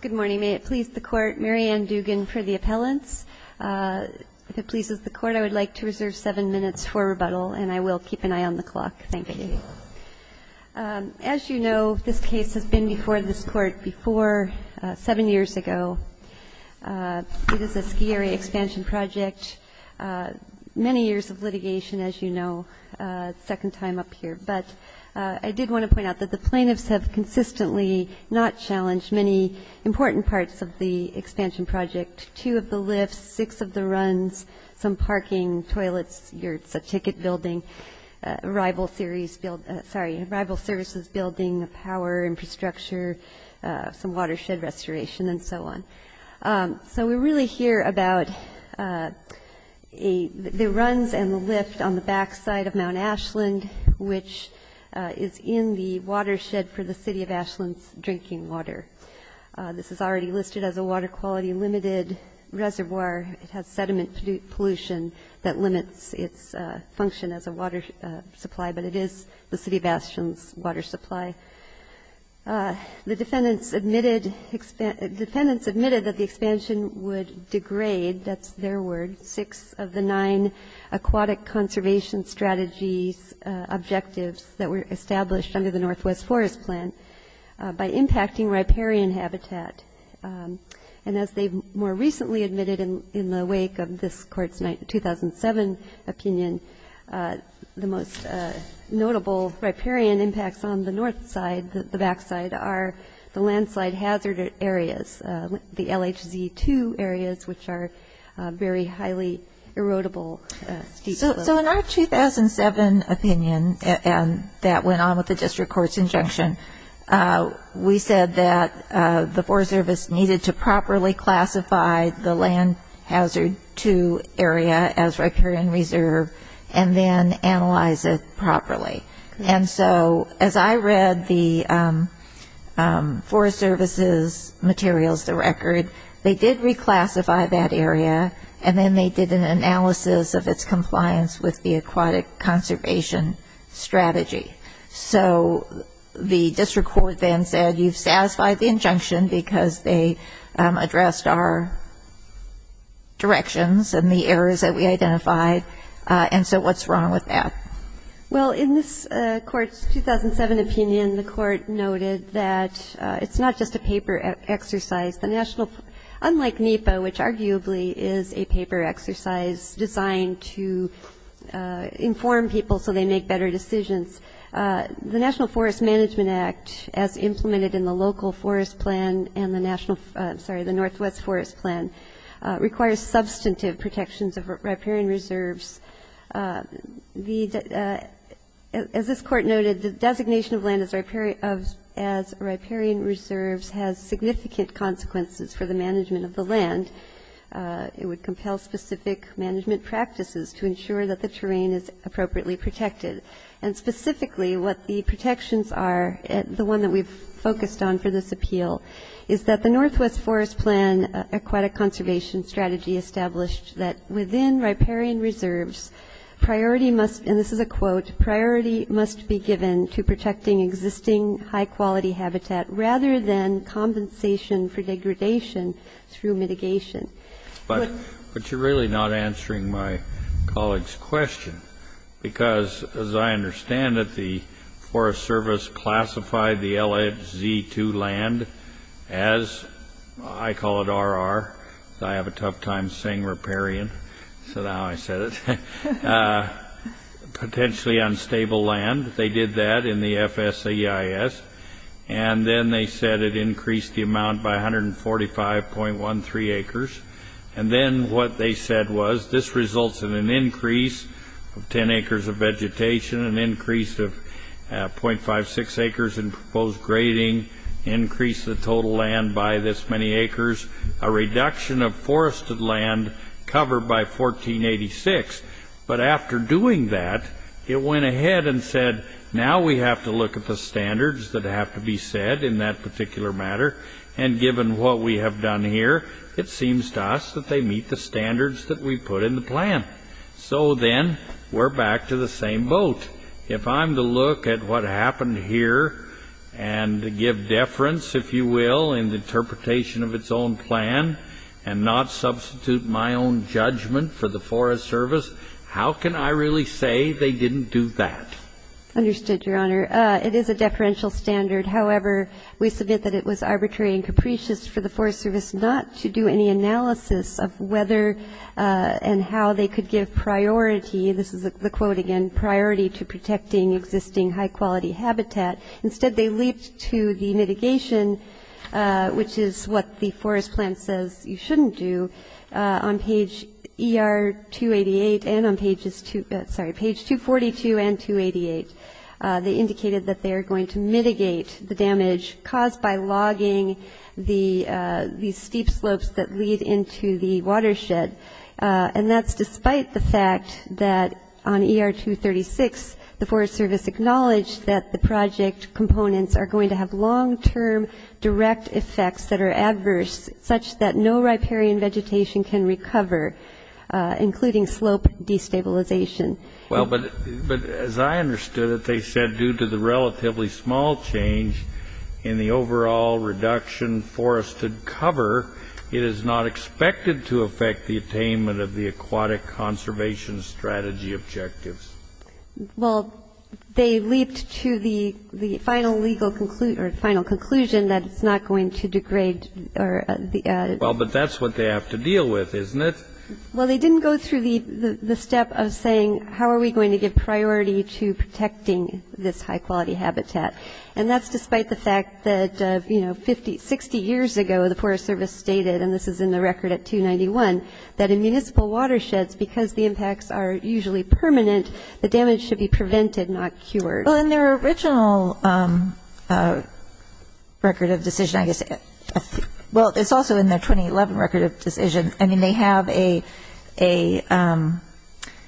Good morning. May it please the Court, Mary Ann Dugan for the appellants. If it pleases the Court, I would like to reserve seven minutes for rebuttal, and I will keep an eye on the clock. Thank you. Thank you. As you know, this case has been before this Court before seven years ago. It is a ski area expansion project, many years of litigation, as you know, second time up here. But I did want to point out that the plaintiffs have consistently not challenged many important parts of the expansion project, two of the lifts, six of the runs, some parking, toilets, a ticket building, rival services building, a power infrastructure, some watershed restoration, and so on. So we really hear about the runs and the lift on the backside of Mount Ashland, which is in the watershed for the City of Ashland's drinking water. This is already listed as a water quality limited reservoir. It has sediment pollution that limits its function as a water supply, but it is the City of Ashland's water supply. The defendants admitted that the expansion would degrade, that's their word, six of the nine aquatic conservation strategies objectives that were established under the Northwest Forest Plan by impacting riparian habitat. And as they more recently admitted in the wake of this Court's 2007 opinion, the most notable riparian impacts on the north side, the backside, are the landslide hazard areas, the LHZ2 areas, which are very highly erodible steep slopes. So in our 2007 opinion, and that went on with the District Court's injunction, we said that the Forest Service needed to properly classify the LHZ2 area as riparian reserve and then analyze it properly. And so as I read the Forest Service's materials, the record, they did reclassify that area and then they did an analysis of its compliance with the aquatic conservation strategy. So the District Court then said you've satisfied the injunction because they addressed our directions and the areas that we identified, and so what's wrong with that? Well, in this Court's 2007 opinion, the Court noted that it's not just a paper exercise. Unlike NEPA, which arguably is a paper exercise designed to inform people so they make better decisions, the National Forest Management Act, as implemented in the local forest plan and the national, I'm sorry, the Northwest Forest Plan, requires substantive protections of riparian reserves. As this Court noted, the designation of land as riparian reserves has significant consequences for the management of the land. It would compel specific management practices to ensure that the terrain is appropriately protected, and specifically what the protections are, the one that we've focused on for this appeal, is that the Northwest Forest Plan aquatic conservation strategy established that within riparian reserves, priority must, and this is a quote, priority must be given to protecting existing high-quality habitat rather than compensation for degradation through mitigation. But you're really not answering my colleague's question, because as I understand it, the Forest Service classified the LHZ-2 land as, I call it RR, I have a tough time saying riparian, so now I said it, potentially unstable land. They did that in the FSAEIS, and then they said it increased the amount by 145.13 acres, and then what they said was, this results in an increase of 10 acres of vegetation, an increase of 0.56 acres in proposed grading, increase of total land by this many acres, a reduction of forested land covered by 1486, but after doing that, it went ahead and said, now we have to look at the standards that have to be set in that particular matter, and given what we have done here, it seems to us that they meet the standards that we put in the plan. So then we're back to the same boat. If I'm to look at what happened here and give deference, if you will, in the interpretation of its own plan and not substitute my own judgment for the Forest Service, how can I really say they didn't do that? Understood, Your Honor. It is a deferential standard. However, we submit that it was arbitrary and capricious for the Forest Service not to do any analysis of whether and how they could give priority, this is the quote again, priority to protecting existing high-quality habitat. Instead, they leaped to the mitigation, which is what the forest plan says you shouldn't do, on page ER-288 and on page 242 and 288. They indicated that they are going to mitigate the damage caused by logging these steep slopes that lead into the watershed, and that's despite the fact that on ER-236, the Forest Service acknowledged that the project components are going to have long-term direct effects that are adverse such that no riparian vegetation can recover, including slope destabilization. Well, but as I understood it, they said due to the relatively small change in the overall reduction forested cover, it is not expected to affect the attainment of the aquatic conservation strategy objectives. Well, they leaped to the final conclusion that it's not going to degrade. Well, but that's what they have to deal with, isn't it? Well, they didn't go through the step of saying how are we going to give priority to protecting this high-quality habitat, and that's despite the fact that, you know, 60 years ago, the Forest Service stated, and this is in the record at 291, that in municipal watersheds, because the impacts are usually permanent, the damage should be prevented, not cured. Well, in their original record of decision, I guess, well, it's also in their 2011 record of decision, I mean, they have a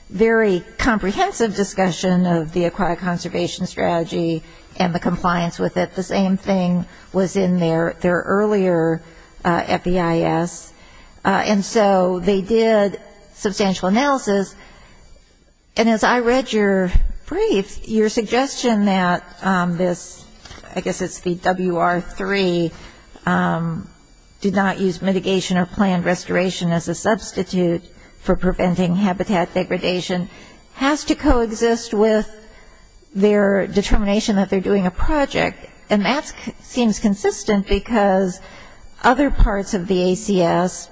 very comprehensive discussion of the aquatic conservation strategy and the compliance with it. The same thing was in their earlier FEIS. And so they did substantial analysis, and as I read your brief, your suggestion that this, I guess it's the WR3, did not use mitigation or planned restoration as a substitute for preventing habitat degradation has to coexist with their determination that they're doing a project, and that seems consistent because other parts of the ACS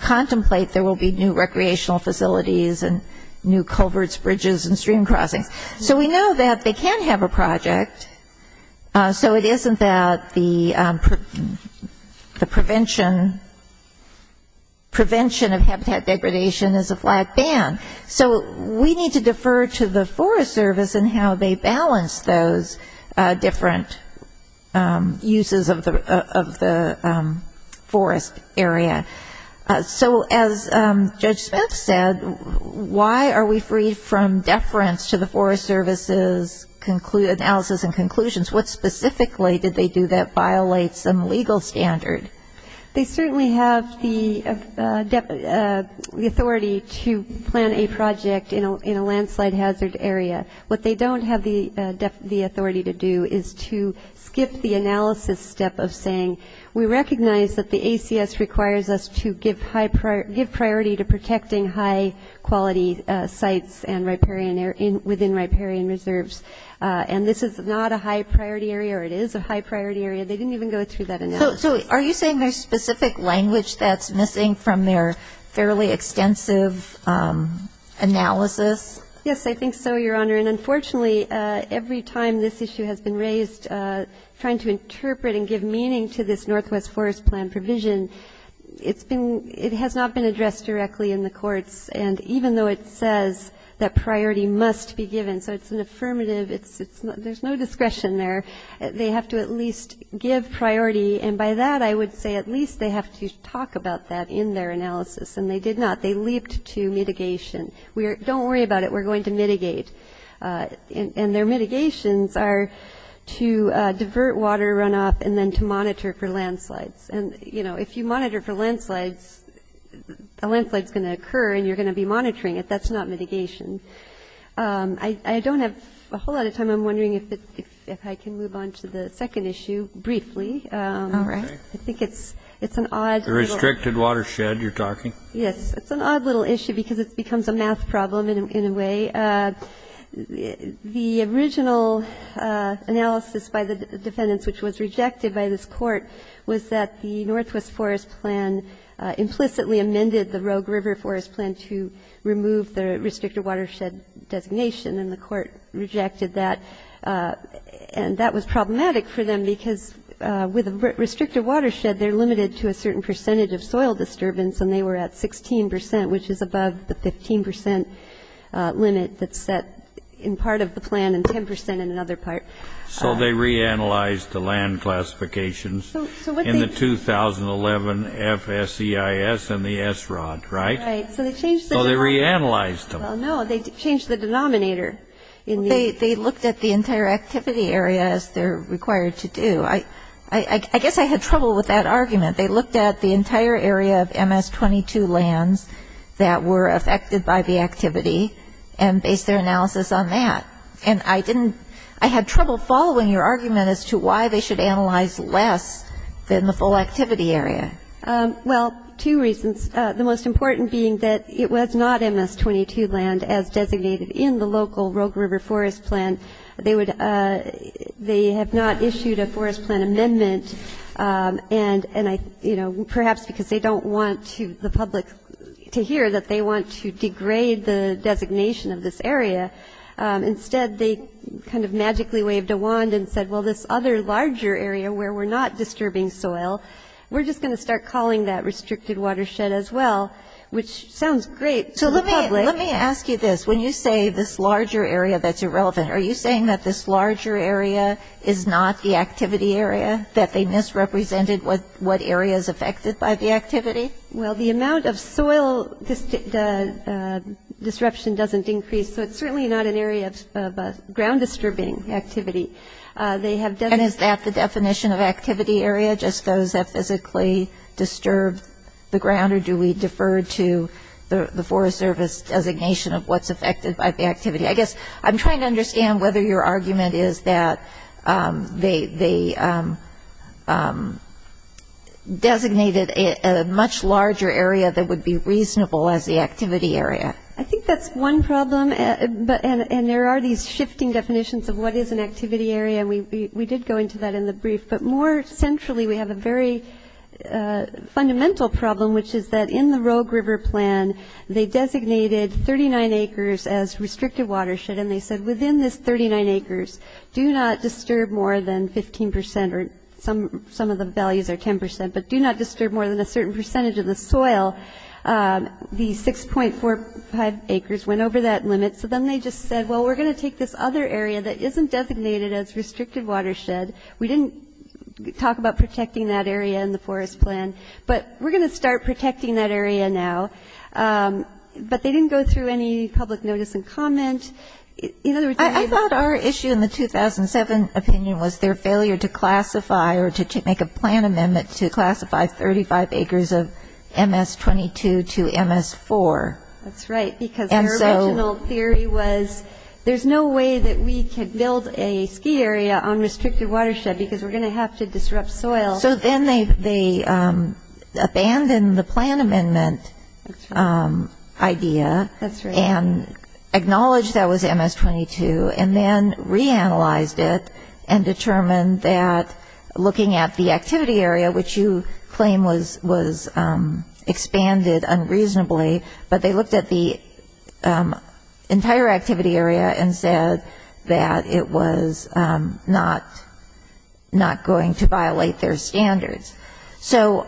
contemplate there will be new recreational facilities and new culverts, bridges, and stream crossings. So we know that they can have a project, so it isn't that the prevention of habitat degradation is a flat band. So we need to defer to the Forest Service in how they balance those different uses of the forest area. So as Judge Smith said, why are we freed from deference to the Forest Service's analysis and conclusions? What specifically did they do that violates some legal standard? They certainly have the authority to plan a project in a landslide hazard area. What they don't have the authority to do is to skip the analysis step of saying, we recognize that the ACS requires us to give priority to protecting high-quality sites within riparian reserves, and this is not a high-priority area, or it is a high-priority area. They didn't even go through that analysis. So are you saying there's specific language that's missing from their fairly extensive analysis? Yes, I think so, Your Honor, and unfortunately, every time this issue has been raised, trying to interpret and give meaning to this Northwest Forest Plan provision, it has not been addressed directly in the courts, and even though it says that priority must be given, so it's an obligation to give priority, and by that, I would say at least they have to talk about that in their analysis, and they did not. They leaped to mitigation. Don't worry about it. We're going to mitigate, and their mitigations are to divert water runoff and then to monitor for landslides, and if you monitor for landslides, a landslide's going to occur, and you're going to be monitoring it. That's not mitigation. I don't have a whole lot of time. I'm wondering if I can move on to the second issue briefly. All right. I think it's an odd little issue because it becomes a math problem in a way. The original analysis by the defendants, which was rejected by this court, was that the Northwest Forest Plan implicitly amended the Rogue River Forest Plan to remove the restricted watershed. It was a restricted watershed designation, and the court rejected that, and that was problematic for them because with a restricted watershed, they're limited to a certain percentage of soil disturbance, and they were at 16%, which is above the 15% limit that's set in part of the plan, and 10% in another part. So they reanalyzed the land classifications in the 2011 FSEIS and the SROD, right? Right. So they changed the area. So they reanalyzed them. Well, no, they changed the denominator. They looked at the entire activity area, as they're required to do. I guess I had trouble with that argument. They looked at the entire area of MS-22 lands that were affected by the activity and based their analysis on that, and I didn't ‑‑ I had trouble following your argument as to why they should analyze less than the full activity area. Well, two reasons. The most important being that it was not MS-22 land as designated in the local Rogue River Forest Plan. They would ‑‑ they have not issued a forest plan amendment, and I ‑‑ you know, perhaps because they don't want to ‑‑ the public to hear that they want to degrade the designation of this area. Instead, they kind of magically waved a wand and said, well, this other larger area where we're not disturbing soil, we're just going to stay in this area. And they started calling that restricted watershed as well, which sounds great to the public. So let me ask you this. When you say this larger area that's irrelevant, are you saying that this larger area is not the activity area, that they misrepresented what areas affected by the activity? Well, the amount of soil disruption doesn't increase, so it's certainly not an area of ground disturbing activity. They have ‑‑ And is that the definition of activity area, just those that physically disturb the ground, or do we defer to the Forest Service designation of what's affected by the activity? I guess I'm trying to understand whether your argument is that they designated a much larger area that would be reasonable as the activity area. I think that's one problem, and there are these shifting definitions of what is an activity area, and we did go into that in the brief. But more centrally, we have a very fundamental problem, which is that in the Rogue River Plan, they designated 39 acres as restricted watershed. And they said within this 39 acres, do not disturb more than 15 percent, or some of the values are 10 percent, but do not disturb more than a certain percentage of the soil. The 6.45 acres went over that limit, so then they just said, well, we're going to take this other area that isn't designated as restricted watershed. We didn't talk about protecting that area in the Forest Plan, but we're going to start protecting that area now. But they didn't go through any public notice and comment. I thought our issue in the 2007 opinion was their failure to classify, or to make a plan amendment to classify 35 acres of MS-22. to MS-4. That's right, because their original theory was, there's no way that we can build a ski area on restricted watershed, because we're going to have to disrupt soil. So then they abandoned the plan amendment idea, and acknowledged that was MS-22, and then reanalyzed it, and determined that looking at the activity area, which you claim was expanded unreasonably, but they looked at the entire activity area and said that it was not going to violate their standards. So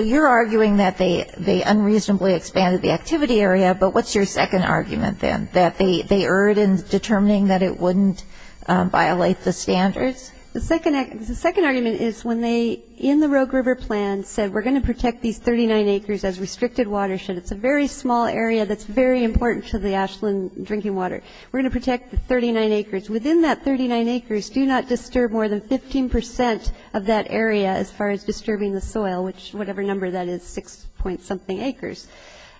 you're arguing that they unreasonably expanded the activity area, but what's your second argument, then, that they erred in determining that it wouldn't violate the standards? The second argument is when they, in the Rogue River Plan, said, we're going to protect these 39 acres as restricted watershed. It's a very small area that's very important to the Ashland drinking water. We're going to protect the 39 acres. Within that 39 acres, do not disturb more than 15% of that area as far as disturbing the soil, which, whatever number that is, 6-point-something acres.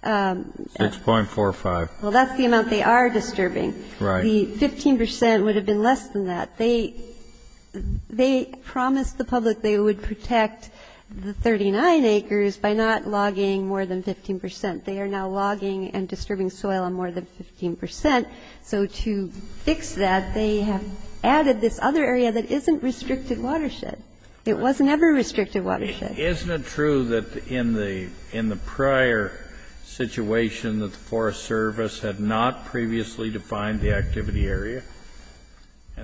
6.45. Well, that's the amount they are disturbing. The 15% would have been less than that. They promised the public they would protect the 39 acres by not logging more than 15%. They are now logging and disturbing soil on more than 15%. So to fix that, they have added this other area that isn't restricted watershed. It wasn't ever restricted watershed. Isn't it true that in the prior situation that the Forest Service had not previously defined the activity area?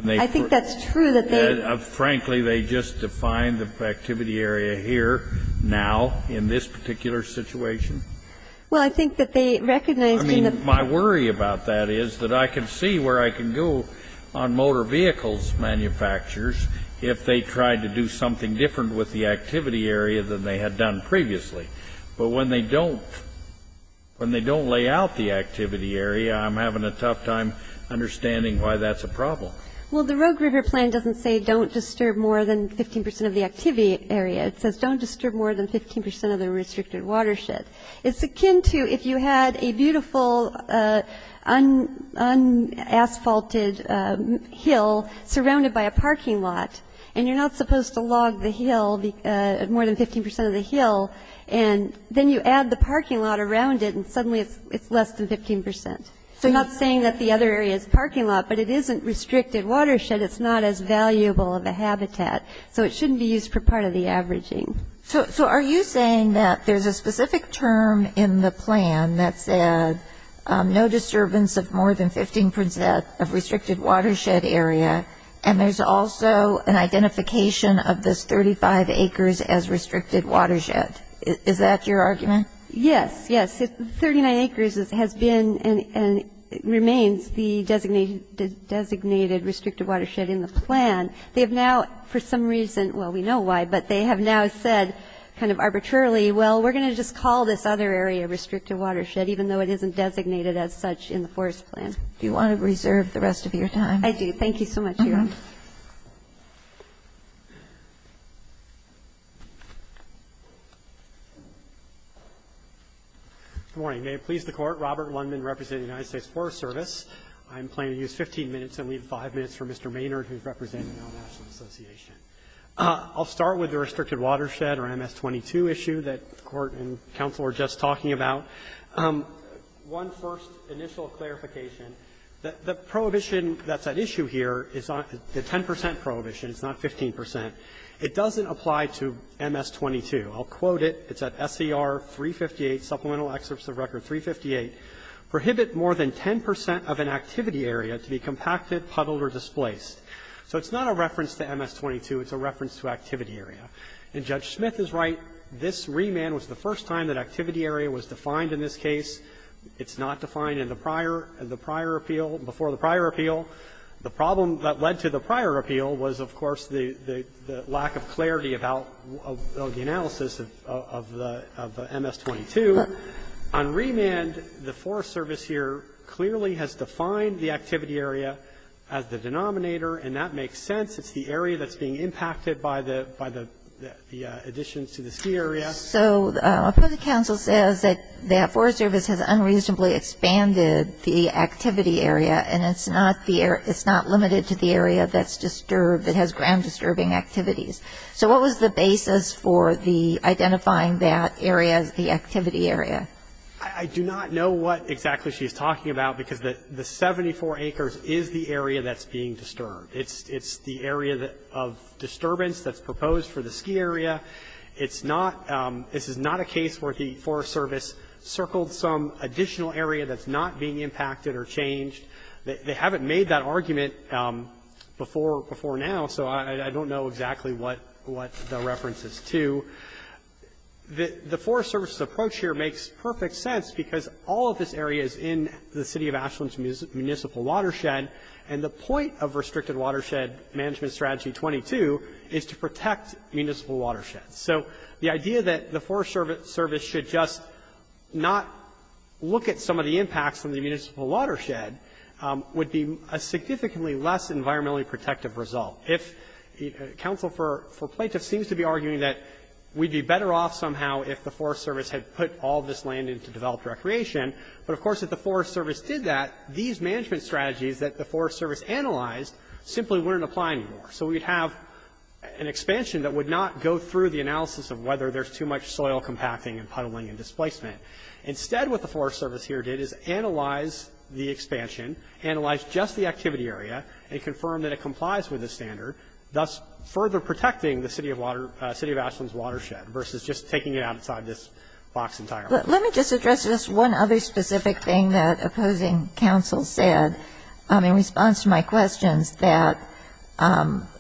I think that's true that they ---- Frankly, they just defined the activity area here now in this particular situation? Well, I think that they recognized in the ---- that they had to do something different with the activity area than they had done previously. But when they don't lay out the activity area, I'm having a tough time understanding why that's a problem. Well, the Rogue River Plan doesn't say don't disturb more than 15% of the activity area. It says don't disturb more than 15% of the restricted watershed. It's akin to if you had a beautiful un-asphalted hill surrounded by a parking lot, and you're not supposed to log the hill, more than 15% of the hill, and then you add the parking lot around it, and suddenly it's less than 15%. So not saying that the other area is a parking lot, but it isn't restricted watershed. It's not as valuable of a habitat. So it shouldn't be used for part of the averaging. So are you saying that there's a specific term in the plan that says no disturbance of more than 15% of restricted watershed area, and there's also an identification of this 35 acres as restricted watershed? Is that your argument? Yes. Yes. 39 acres has been and remains the designated restricted watershed in the plan. They have now, for some reason, well, we know why, but they have now said kind of arbitrarily, well, we're going to just call this other area restricted watershed, even though it isn't designated as such in the forest plan. Do you want to reserve the rest of your time? Good morning. May it please the Court. Robert Lundman, representing the United States Forest Service. I'm planning to use 15 minutes and leave 5 minutes for Mr. Maynard, who's representing the National Association. I'll start with the restricted watershed or MS-22 issue that the Court and counsel are just talking about. One first initial clarification, the prohibition that's at issue here is the 10% prohibition. It's not 15%. It doesn't apply to MS-22. I'll quote it. It's at SCR 358, Supplemental Excerpts of Record 358. Prohibit more than 10% of an activity area to be compacted, puddled, or displaced. So it's not a reference to MS-22. It's a reference to activity area. And Judge Smith is right. This remand was the first time that activity area was defined in this case. It's not defined in the prior and the prior appeal, before the prior appeal. The problem that led to the prior appeal was, of course, the lack of clarity about the analysis of the MS-22. On remand, the Forest Service here clearly has defined the activity area as the denominator, and that makes sense. It's the area that's being impacted by the additions to the ski area. So the counsel says that the Forest Service has unreasonably expanded the activity area, and it's not limited to the area that's disturbed, that has ground-disturbing activities. So what was the basis for identifying that area as the activity area? I do not know what exactly she's talking about, because the 74 acres is the area that's being disturbed. It's the area of disturbance that's proposed for the ski area. This is not a case where the Forest Service circled some additional area that's not being impacted or changed. They haven't made that argument before now, so I don't know exactly what the reference is to. The Forest Service's approach here makes perfect sense, because all of this area is in the City of Ashland's municipal watershed, and the point of Restricted Watershed Management Strategy 22 is to protect municipal watersheds. So the idea that the Forest Service should just not look at some of the impacts from the municipal watershed would be a significantly less environmentally protective result. If counsel for plaintiff seems to be arguing that we'd be better off somehow if the Forest Service had put all this land into developed recreation, but of course if the Forest Service did that, these management strategies that the Forest Service analyzed simply wouldn't apply anymore. So we'd have an expansion that would not go through the analysis of whether there's too much soil compacting and puddling and displacement. Instead what the Forest Service here did is analyze the expansion, analyze just the activity area, and confirm that it complies with the standard, thus further protecting the City of Ashland's watershed versus just taking it outside this box entirely. Let me just address just one other specific thing that opposing counsel said in response to my questions, that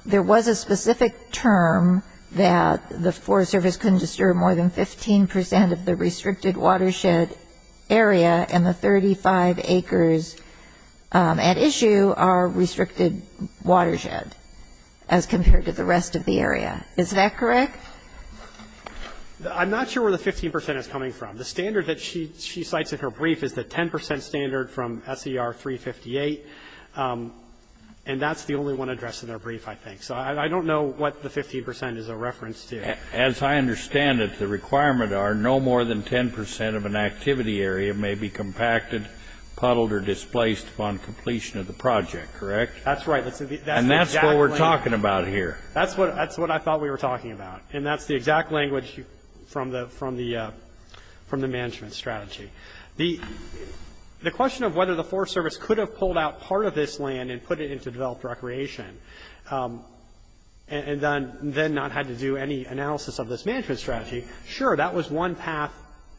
there was a specific term that the Forest Service couldn't disturb more than 15 percent of the water and the 35 acres at issue are restricted watershed as compared to the rest of the area. Is that correct? I'm not sure where the 15 percent is coming from. The standard that she cites in her brief is the 10 percent standard from S.E.R. 358, and that's the only one addressed in her brief, I think. So I don't know what the 15 percent is a reference to. As I understand it, the requirement are no more than 10 percent of an activity area may be compacted, puddled, or displaced upon completion of the project, correct? That's right. And that's what we're talking about here. And that's the exact language from the management strategy. The question of whether the Forest Service could have had to do any analysis of this management strategy, sure, that was one path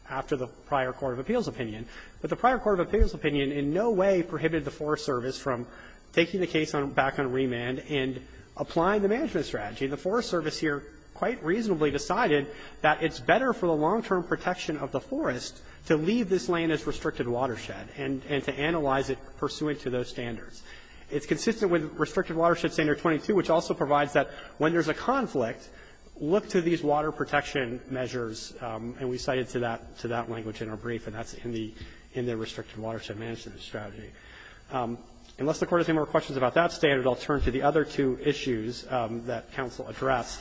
after the prior court of appeals opinion. But the prior court of appeals opinion in no way prohibited the Forest Service from taking the case back on remand and applying the management strategy. And the Forest Service here quite reasonably decided that it's better for the long-term protection of the forest to leave this land as restricted watershed and to analyze it pursuant to those standards. It's consistent with Restricted Watershed Standard 22, which also provides that when there's a conflict, look to these water protection measures. And we cited to that language in her brief, and that's in the Restricted Watershed Management Strategy. Unless the Court has any more questions about that standard, I'll turn to the other two issues that counsel addressed.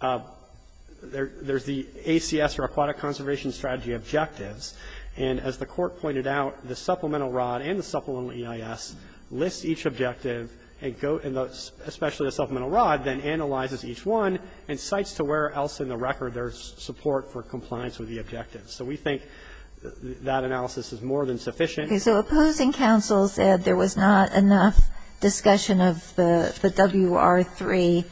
There's the ACS or Aquatic Conservation Strategy objectives. And as the Court pointed out, the supplemental ROD and the supplemental EIS lists each objective, especially the supplemental ROD, then analyzes each one and cites to where else in the record there's support for compliance with the objectives. So we think that analysis is more than sufficient. So opposing counsel said there was not enough discussion of the WR3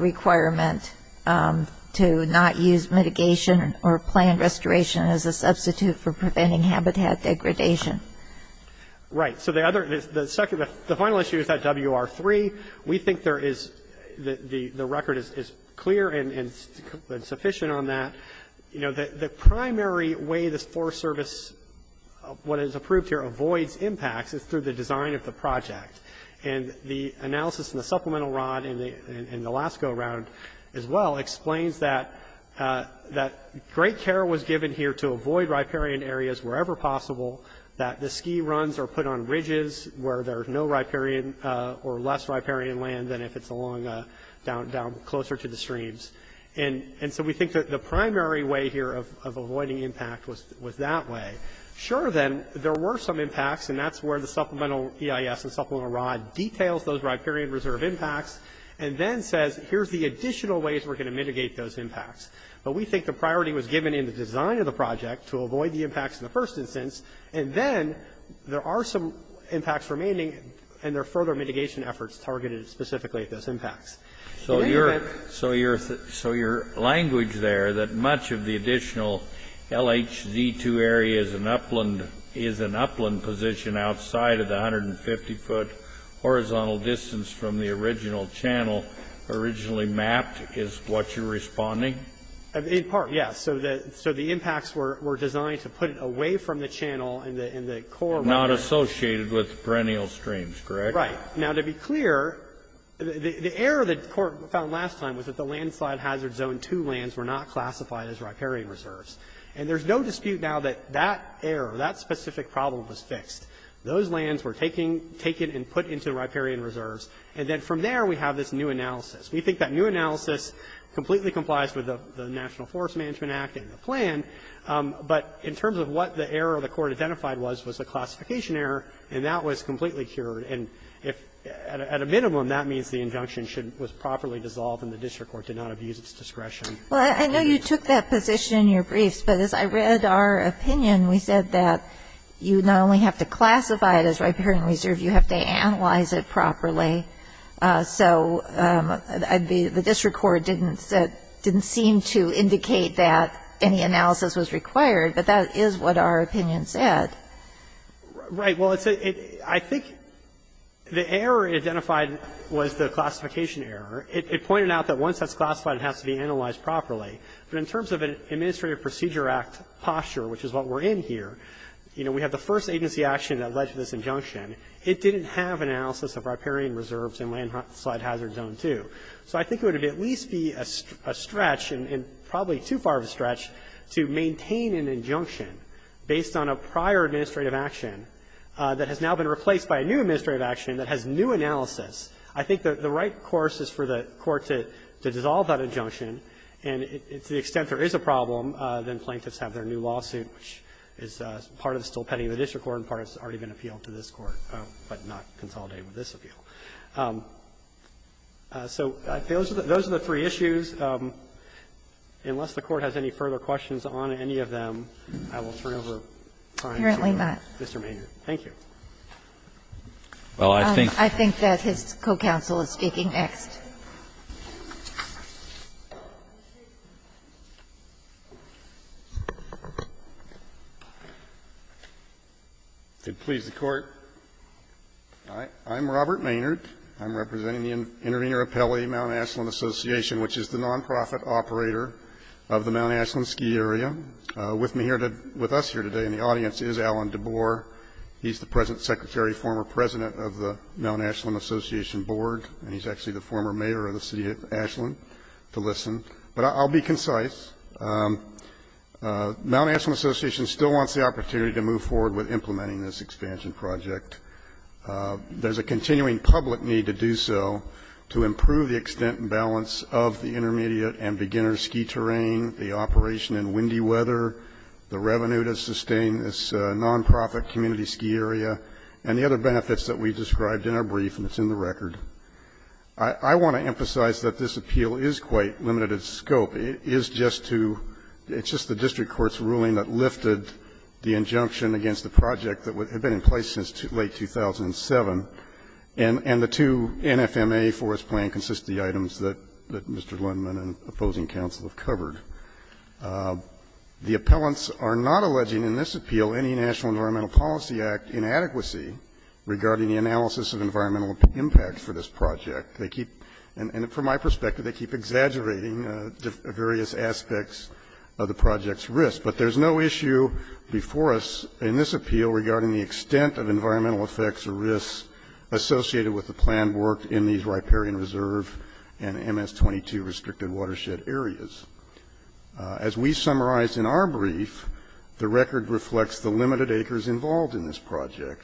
requirement to not use mitigation or planned restoration as a substitute for preventing habitat degradation. Right. So the other, the final issue is that WR3. We think there is, the record is clear and sufficient on that. You know, the primary way this Forest Service, what is approved here, avoids impacts is through the design of the project. And the analysis in the supplemental ROD in the last go-round as well explains that great care was given here to avoid riparian areas wherever possible, that the ski runs are put on ridges where there's no riparian or less riparian land than if it's along, down closer to the streams. And so we think that the primary way here of avoiding impact was that way. Sure, then, there were some impacts, and that's where the supplemental EIS and supplemental ROD details those riparian reserve impacts and then says, here's the design of the project to avoid the impacts in the first instance, and then there are some impacts remaining and there are further mitigation efforts targeted specifically at those impacts. So your language there that much of the additional LHZ2 area is an upland position outside of the 150-foot horizontal distance from the original channel originally mapped is what you're responding? In part, yes. So the impacts were designed to put it away from the channel and the core... Not associated with perennial streams, correct? Right. Now, to be clear, the error that the Court found last time was that the LHZ2 lands were not classified as riparian reserves. And there's no dispute now that that error, that specific problem was fixed. Those lands were taken and put into riparian reserves, and then from there we have this new analysis. We think that new analysis completely complies with the National Forest Management Act and the plan, but in terms of what the error the Court identified was, was a classification error, and that was completely cured. At a minimum, that means the injunction was properly dissolved and the District Court did not abuse its discretion. Well, I know you took that position in your briefs, but as I read our opinion, we said that you not only have to classify it as riparian reserve, you have to analyze it properly. The District Court didn't seem to indicate that any analysis was required, but that is what our opinion said. Right. Well, I think the error identified was the classification error. It pointed out that once that's classified, it has to be analyzed properly. But in terms of an Administrative Procedure Act posture, which is what we're in here, you know, we have the first agency action that led to this injunction. It didn't have an analysis of riparian reserves in Landslide Hazard Zone 2. So I think it would at least be a stretch, and probably too far of a stretch, to maintain an injunction based on a prior administrative action that has now been replaced by a new administrative action that has new analysis. I think the right course is for the Court to dissolve that injunction, and to the extent there is a problem, then plaintiffs have their new lawsuit, which is part of the still case where it's already been appealed to this Court, but not consolidated with this appeal. So those are the three issues. Unless the Court has any further questions on any of them, I will turn it over to Mr. Maynard. Thank you. I think that his co-counsel is speaking next. If it pleases the Court, I'm Robert Maynard. I'm representing the Intervenor Appellee Mount Ashland Association, which is the nonprofit operator of the Mount Ashland Ski Area. With me here, with us here today in the audience is Alan DeBoer. He's the present Secretary, former President of the Mount Ashland Association Board, and he's actually the former Mayor of the City of Ashland, to listen. But I'll be concise. Mount Ashland Association still wants the opportunity to move forward with implementing this expansion project. There's a continuing public need to do so to improve the extent and balance of the intermediate and beginner ski terrain, the operation in windy weather, the revenue to sustain this nonprofit community ski area, and the other benefits that we've described in our brief, and it's in the record. I want to emphasize that this appeal is quite limited in scope. It is just to, it's just the district court's ruling that lifted the injunction against the project that had been in place since late 2007, and the two NFMA Forest Plan consist of the items that Mr. Lindman and opposing counsel have covered. The appellants are not alleging in this appeal any National Environmental Policy Act inadequacy regarding the analysis of environmental impact for this project. They keep, and from my perspective, they keep exaggerating various aspects of the project's risk. But there's no issue before us in this appeal regarding the extent of environmental effects or risks associated with the planned work in these riparian reserve and MS-22 restricted watershed areas. As we summarized in our brief, the record reflects the limited acres involved in this project,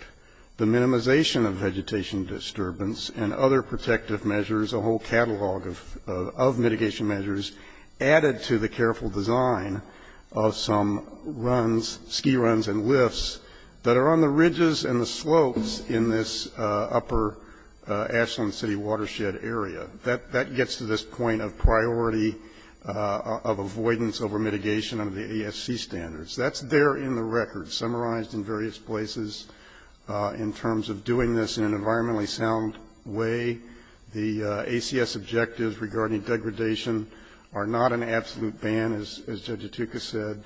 the minimization of vegetation disturbance, and other protective measures, a whole catalog of mitigation measures added to the careful design of some runs, ski runs and lifts that are on the ridges and the slopes in this upper Ashland City watershed area. That gets to this point of priority of avoidance over mitigation under the ASC standards. That's there in the record summarized in various places in terms of doing this in an environmentally sound way. The ACS objectives regarding degradation are not an absolute ban, as Judge Itooka said.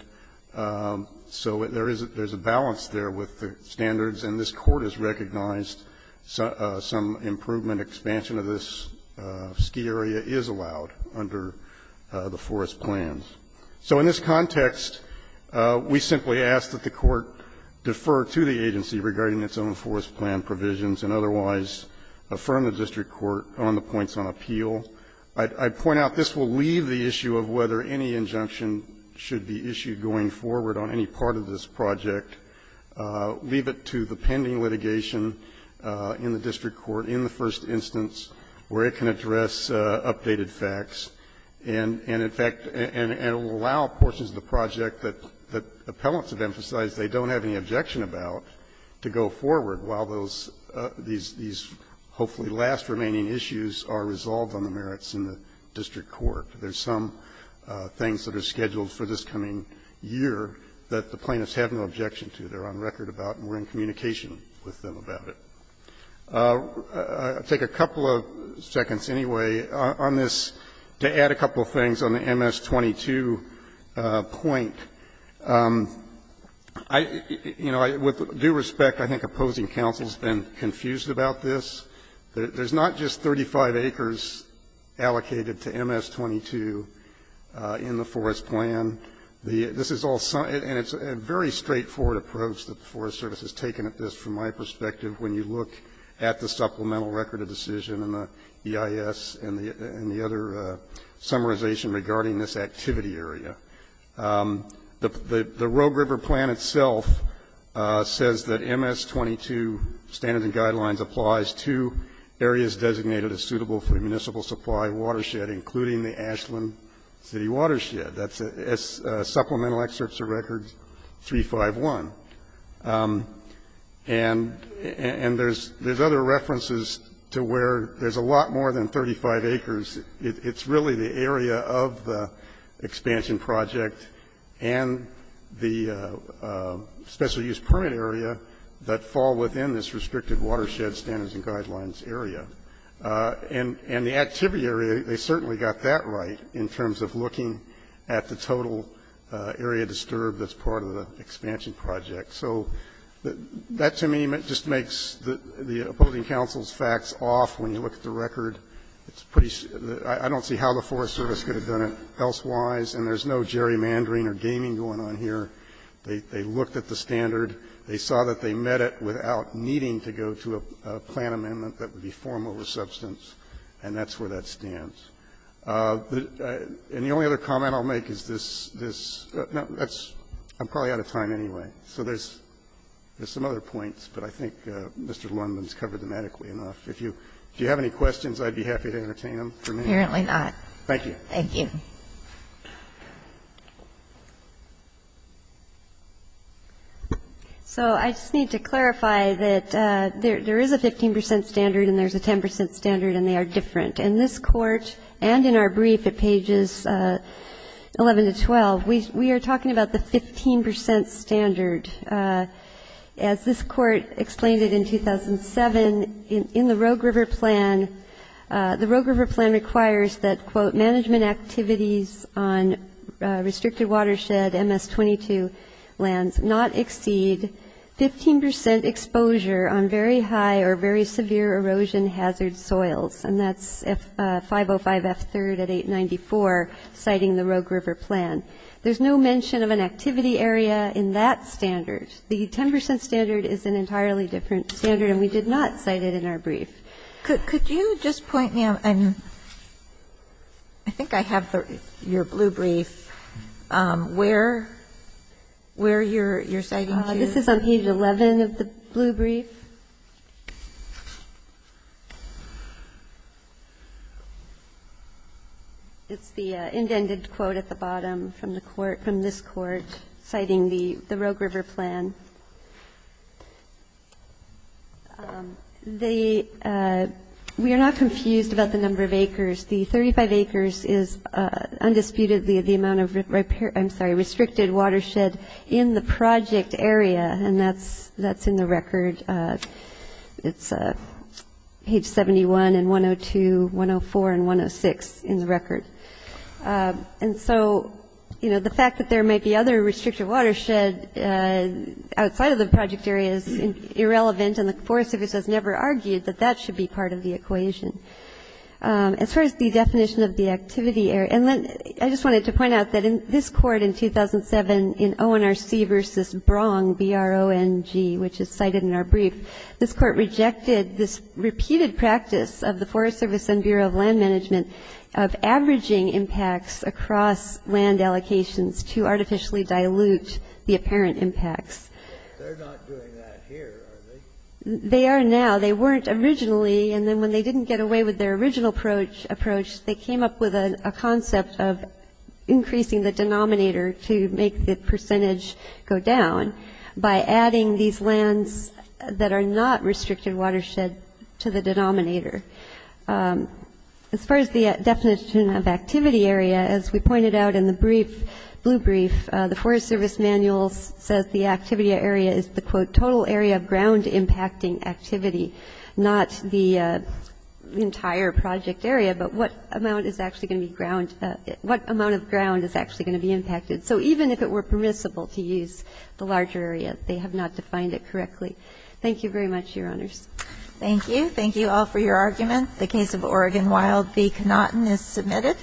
So there is a balance there with the standards, and this Court has recognized some improvement, expansion of this ski area is allowed under the forest plans. So in this context, we simply ask that the Court defer to the agency regarding its own forest plan provisions and otherwise affirm the district court on the points on appeal. I point out this will leave the issue of whether any injunction should be issued going forward on any part of this project, leave it to the pending litigation in the district court in the first instance where it can address updated facts, and in fact, it will allow portions of the project that appellants have emphasized they don't have any objection about to go forward while those, these hopefully last remaining issues are resolved on the merits in the district court. There's some things that are scheduled for this coming year that the plaintiffs have no objection to. They're on record about, and we're in communication with them about it. I'll take a couple of seconds anyway on this to add a couple of things on the MS22 point. I, you know, with due respect, I think opposing counsel's been confused about this. There's not just 35 acres allocated to MS22 in the forest plan. This is all, and it's a very straightforward approach the Forest Service has taken at this from my perspective when you look at the supplemental record of decision and the EIS and the other summarization regarding this activity area. The Rogue River plan itself says that MS22 standards and guidelines applies to areas designated as suitable for municipal supply watershed, including the Ashland City Watershed. That's supplemental excerpts of records 351. And there's other references to where there's a lot more than 35 acres. It's really the area of the expansion project and the special use permit area that fall within this restricted watershed standards and guidelines area. And the activity area, they certainly got that right in terms of looking at the total area disturbed that's part of the expansion project. So that to me just makes the opposing counsel's facts off when you look at the record. It's pretty – I don't see how the Forest Service could have done it elsewise, and there's no gerrymandering or gaming going on here. They looked at the standard. They saw that they met it without needing to go to a plan amendment that would be formal or substance, and that's where that stands. And the only other comment I'll make is this – I'm probably out of time anyway. So there's some other points, but I think Mr. Lundman's covered them adequately enough. If you have any questions, I'd be happy to entertain them for me. Apparently not. Thank you. Thank you. So I just need to clarify that there is a 15 percent standard and there's a 10 percent standard, and they are different. In this Court and in our brief at pages 11 to 12, we are talking about the 15 percent standard. As this Court explained it in 2007, in the Rogue River Plan, the Rogue River Plan requires that, quote, management activities on restricted watershed MS-22 lands not exceed 15 percent exposure on very high or very severe erosion hazard soils. And that's 505F3 at 894, citing the Rogue River Plan. There's no mention of an activity area in that standard. The 10 percent standard is an entirely different standard, and we did not cite it in our brief. Could you just point me out? I think I have your blue brief. Where you're citing to? This is on page 11 of the blue brief. Thank you. It's the indented quote at the bottom from this Court citing the Rogue River Plan. We are not confused about the number of acres. The 35 acres is undisputedly the amount of restricted watershed in the project area, and that's in the record. It's page 71 and 102, 104, and 106 in the record. And so, you know, the fact that there may be other restricted watershed outside of the project area is irrelevant, and the Forest Service has never argued that that should be part of the equation. As far as the definition of the activity area, and then I just wanted to point out that in this Court in 2007 in ONRC versus Brong, B-R-O-N-G, which is cited in our brief, this Court rejected this repeated practice of the Forest Service and Bureau of Land Management of averaging impacts across land allocations to artificially dilute the apparent impacts. They're not doing that here, are they? They are now. They weren't originally, and then when they didn't get away with their original approach, they came up with a concept of increasing the denominator to make the percentage go down by adding these lands that are not restricted watershed to the denominator. As far as the definition of activity area, as we pointed out in the brief, blue brief, the Forest Service manual says the activity area is the, quote, total area of the entire project area, but what amount is actually going to be ground, what amount of ground is actually going to be impacted. So even if it were permissible to use the larger area, they have not defined it correctly. Thank you very much, Your Honors. Thank you. Thank you all for your arguments. The case of Oregon Wild v. Knotten is submitted.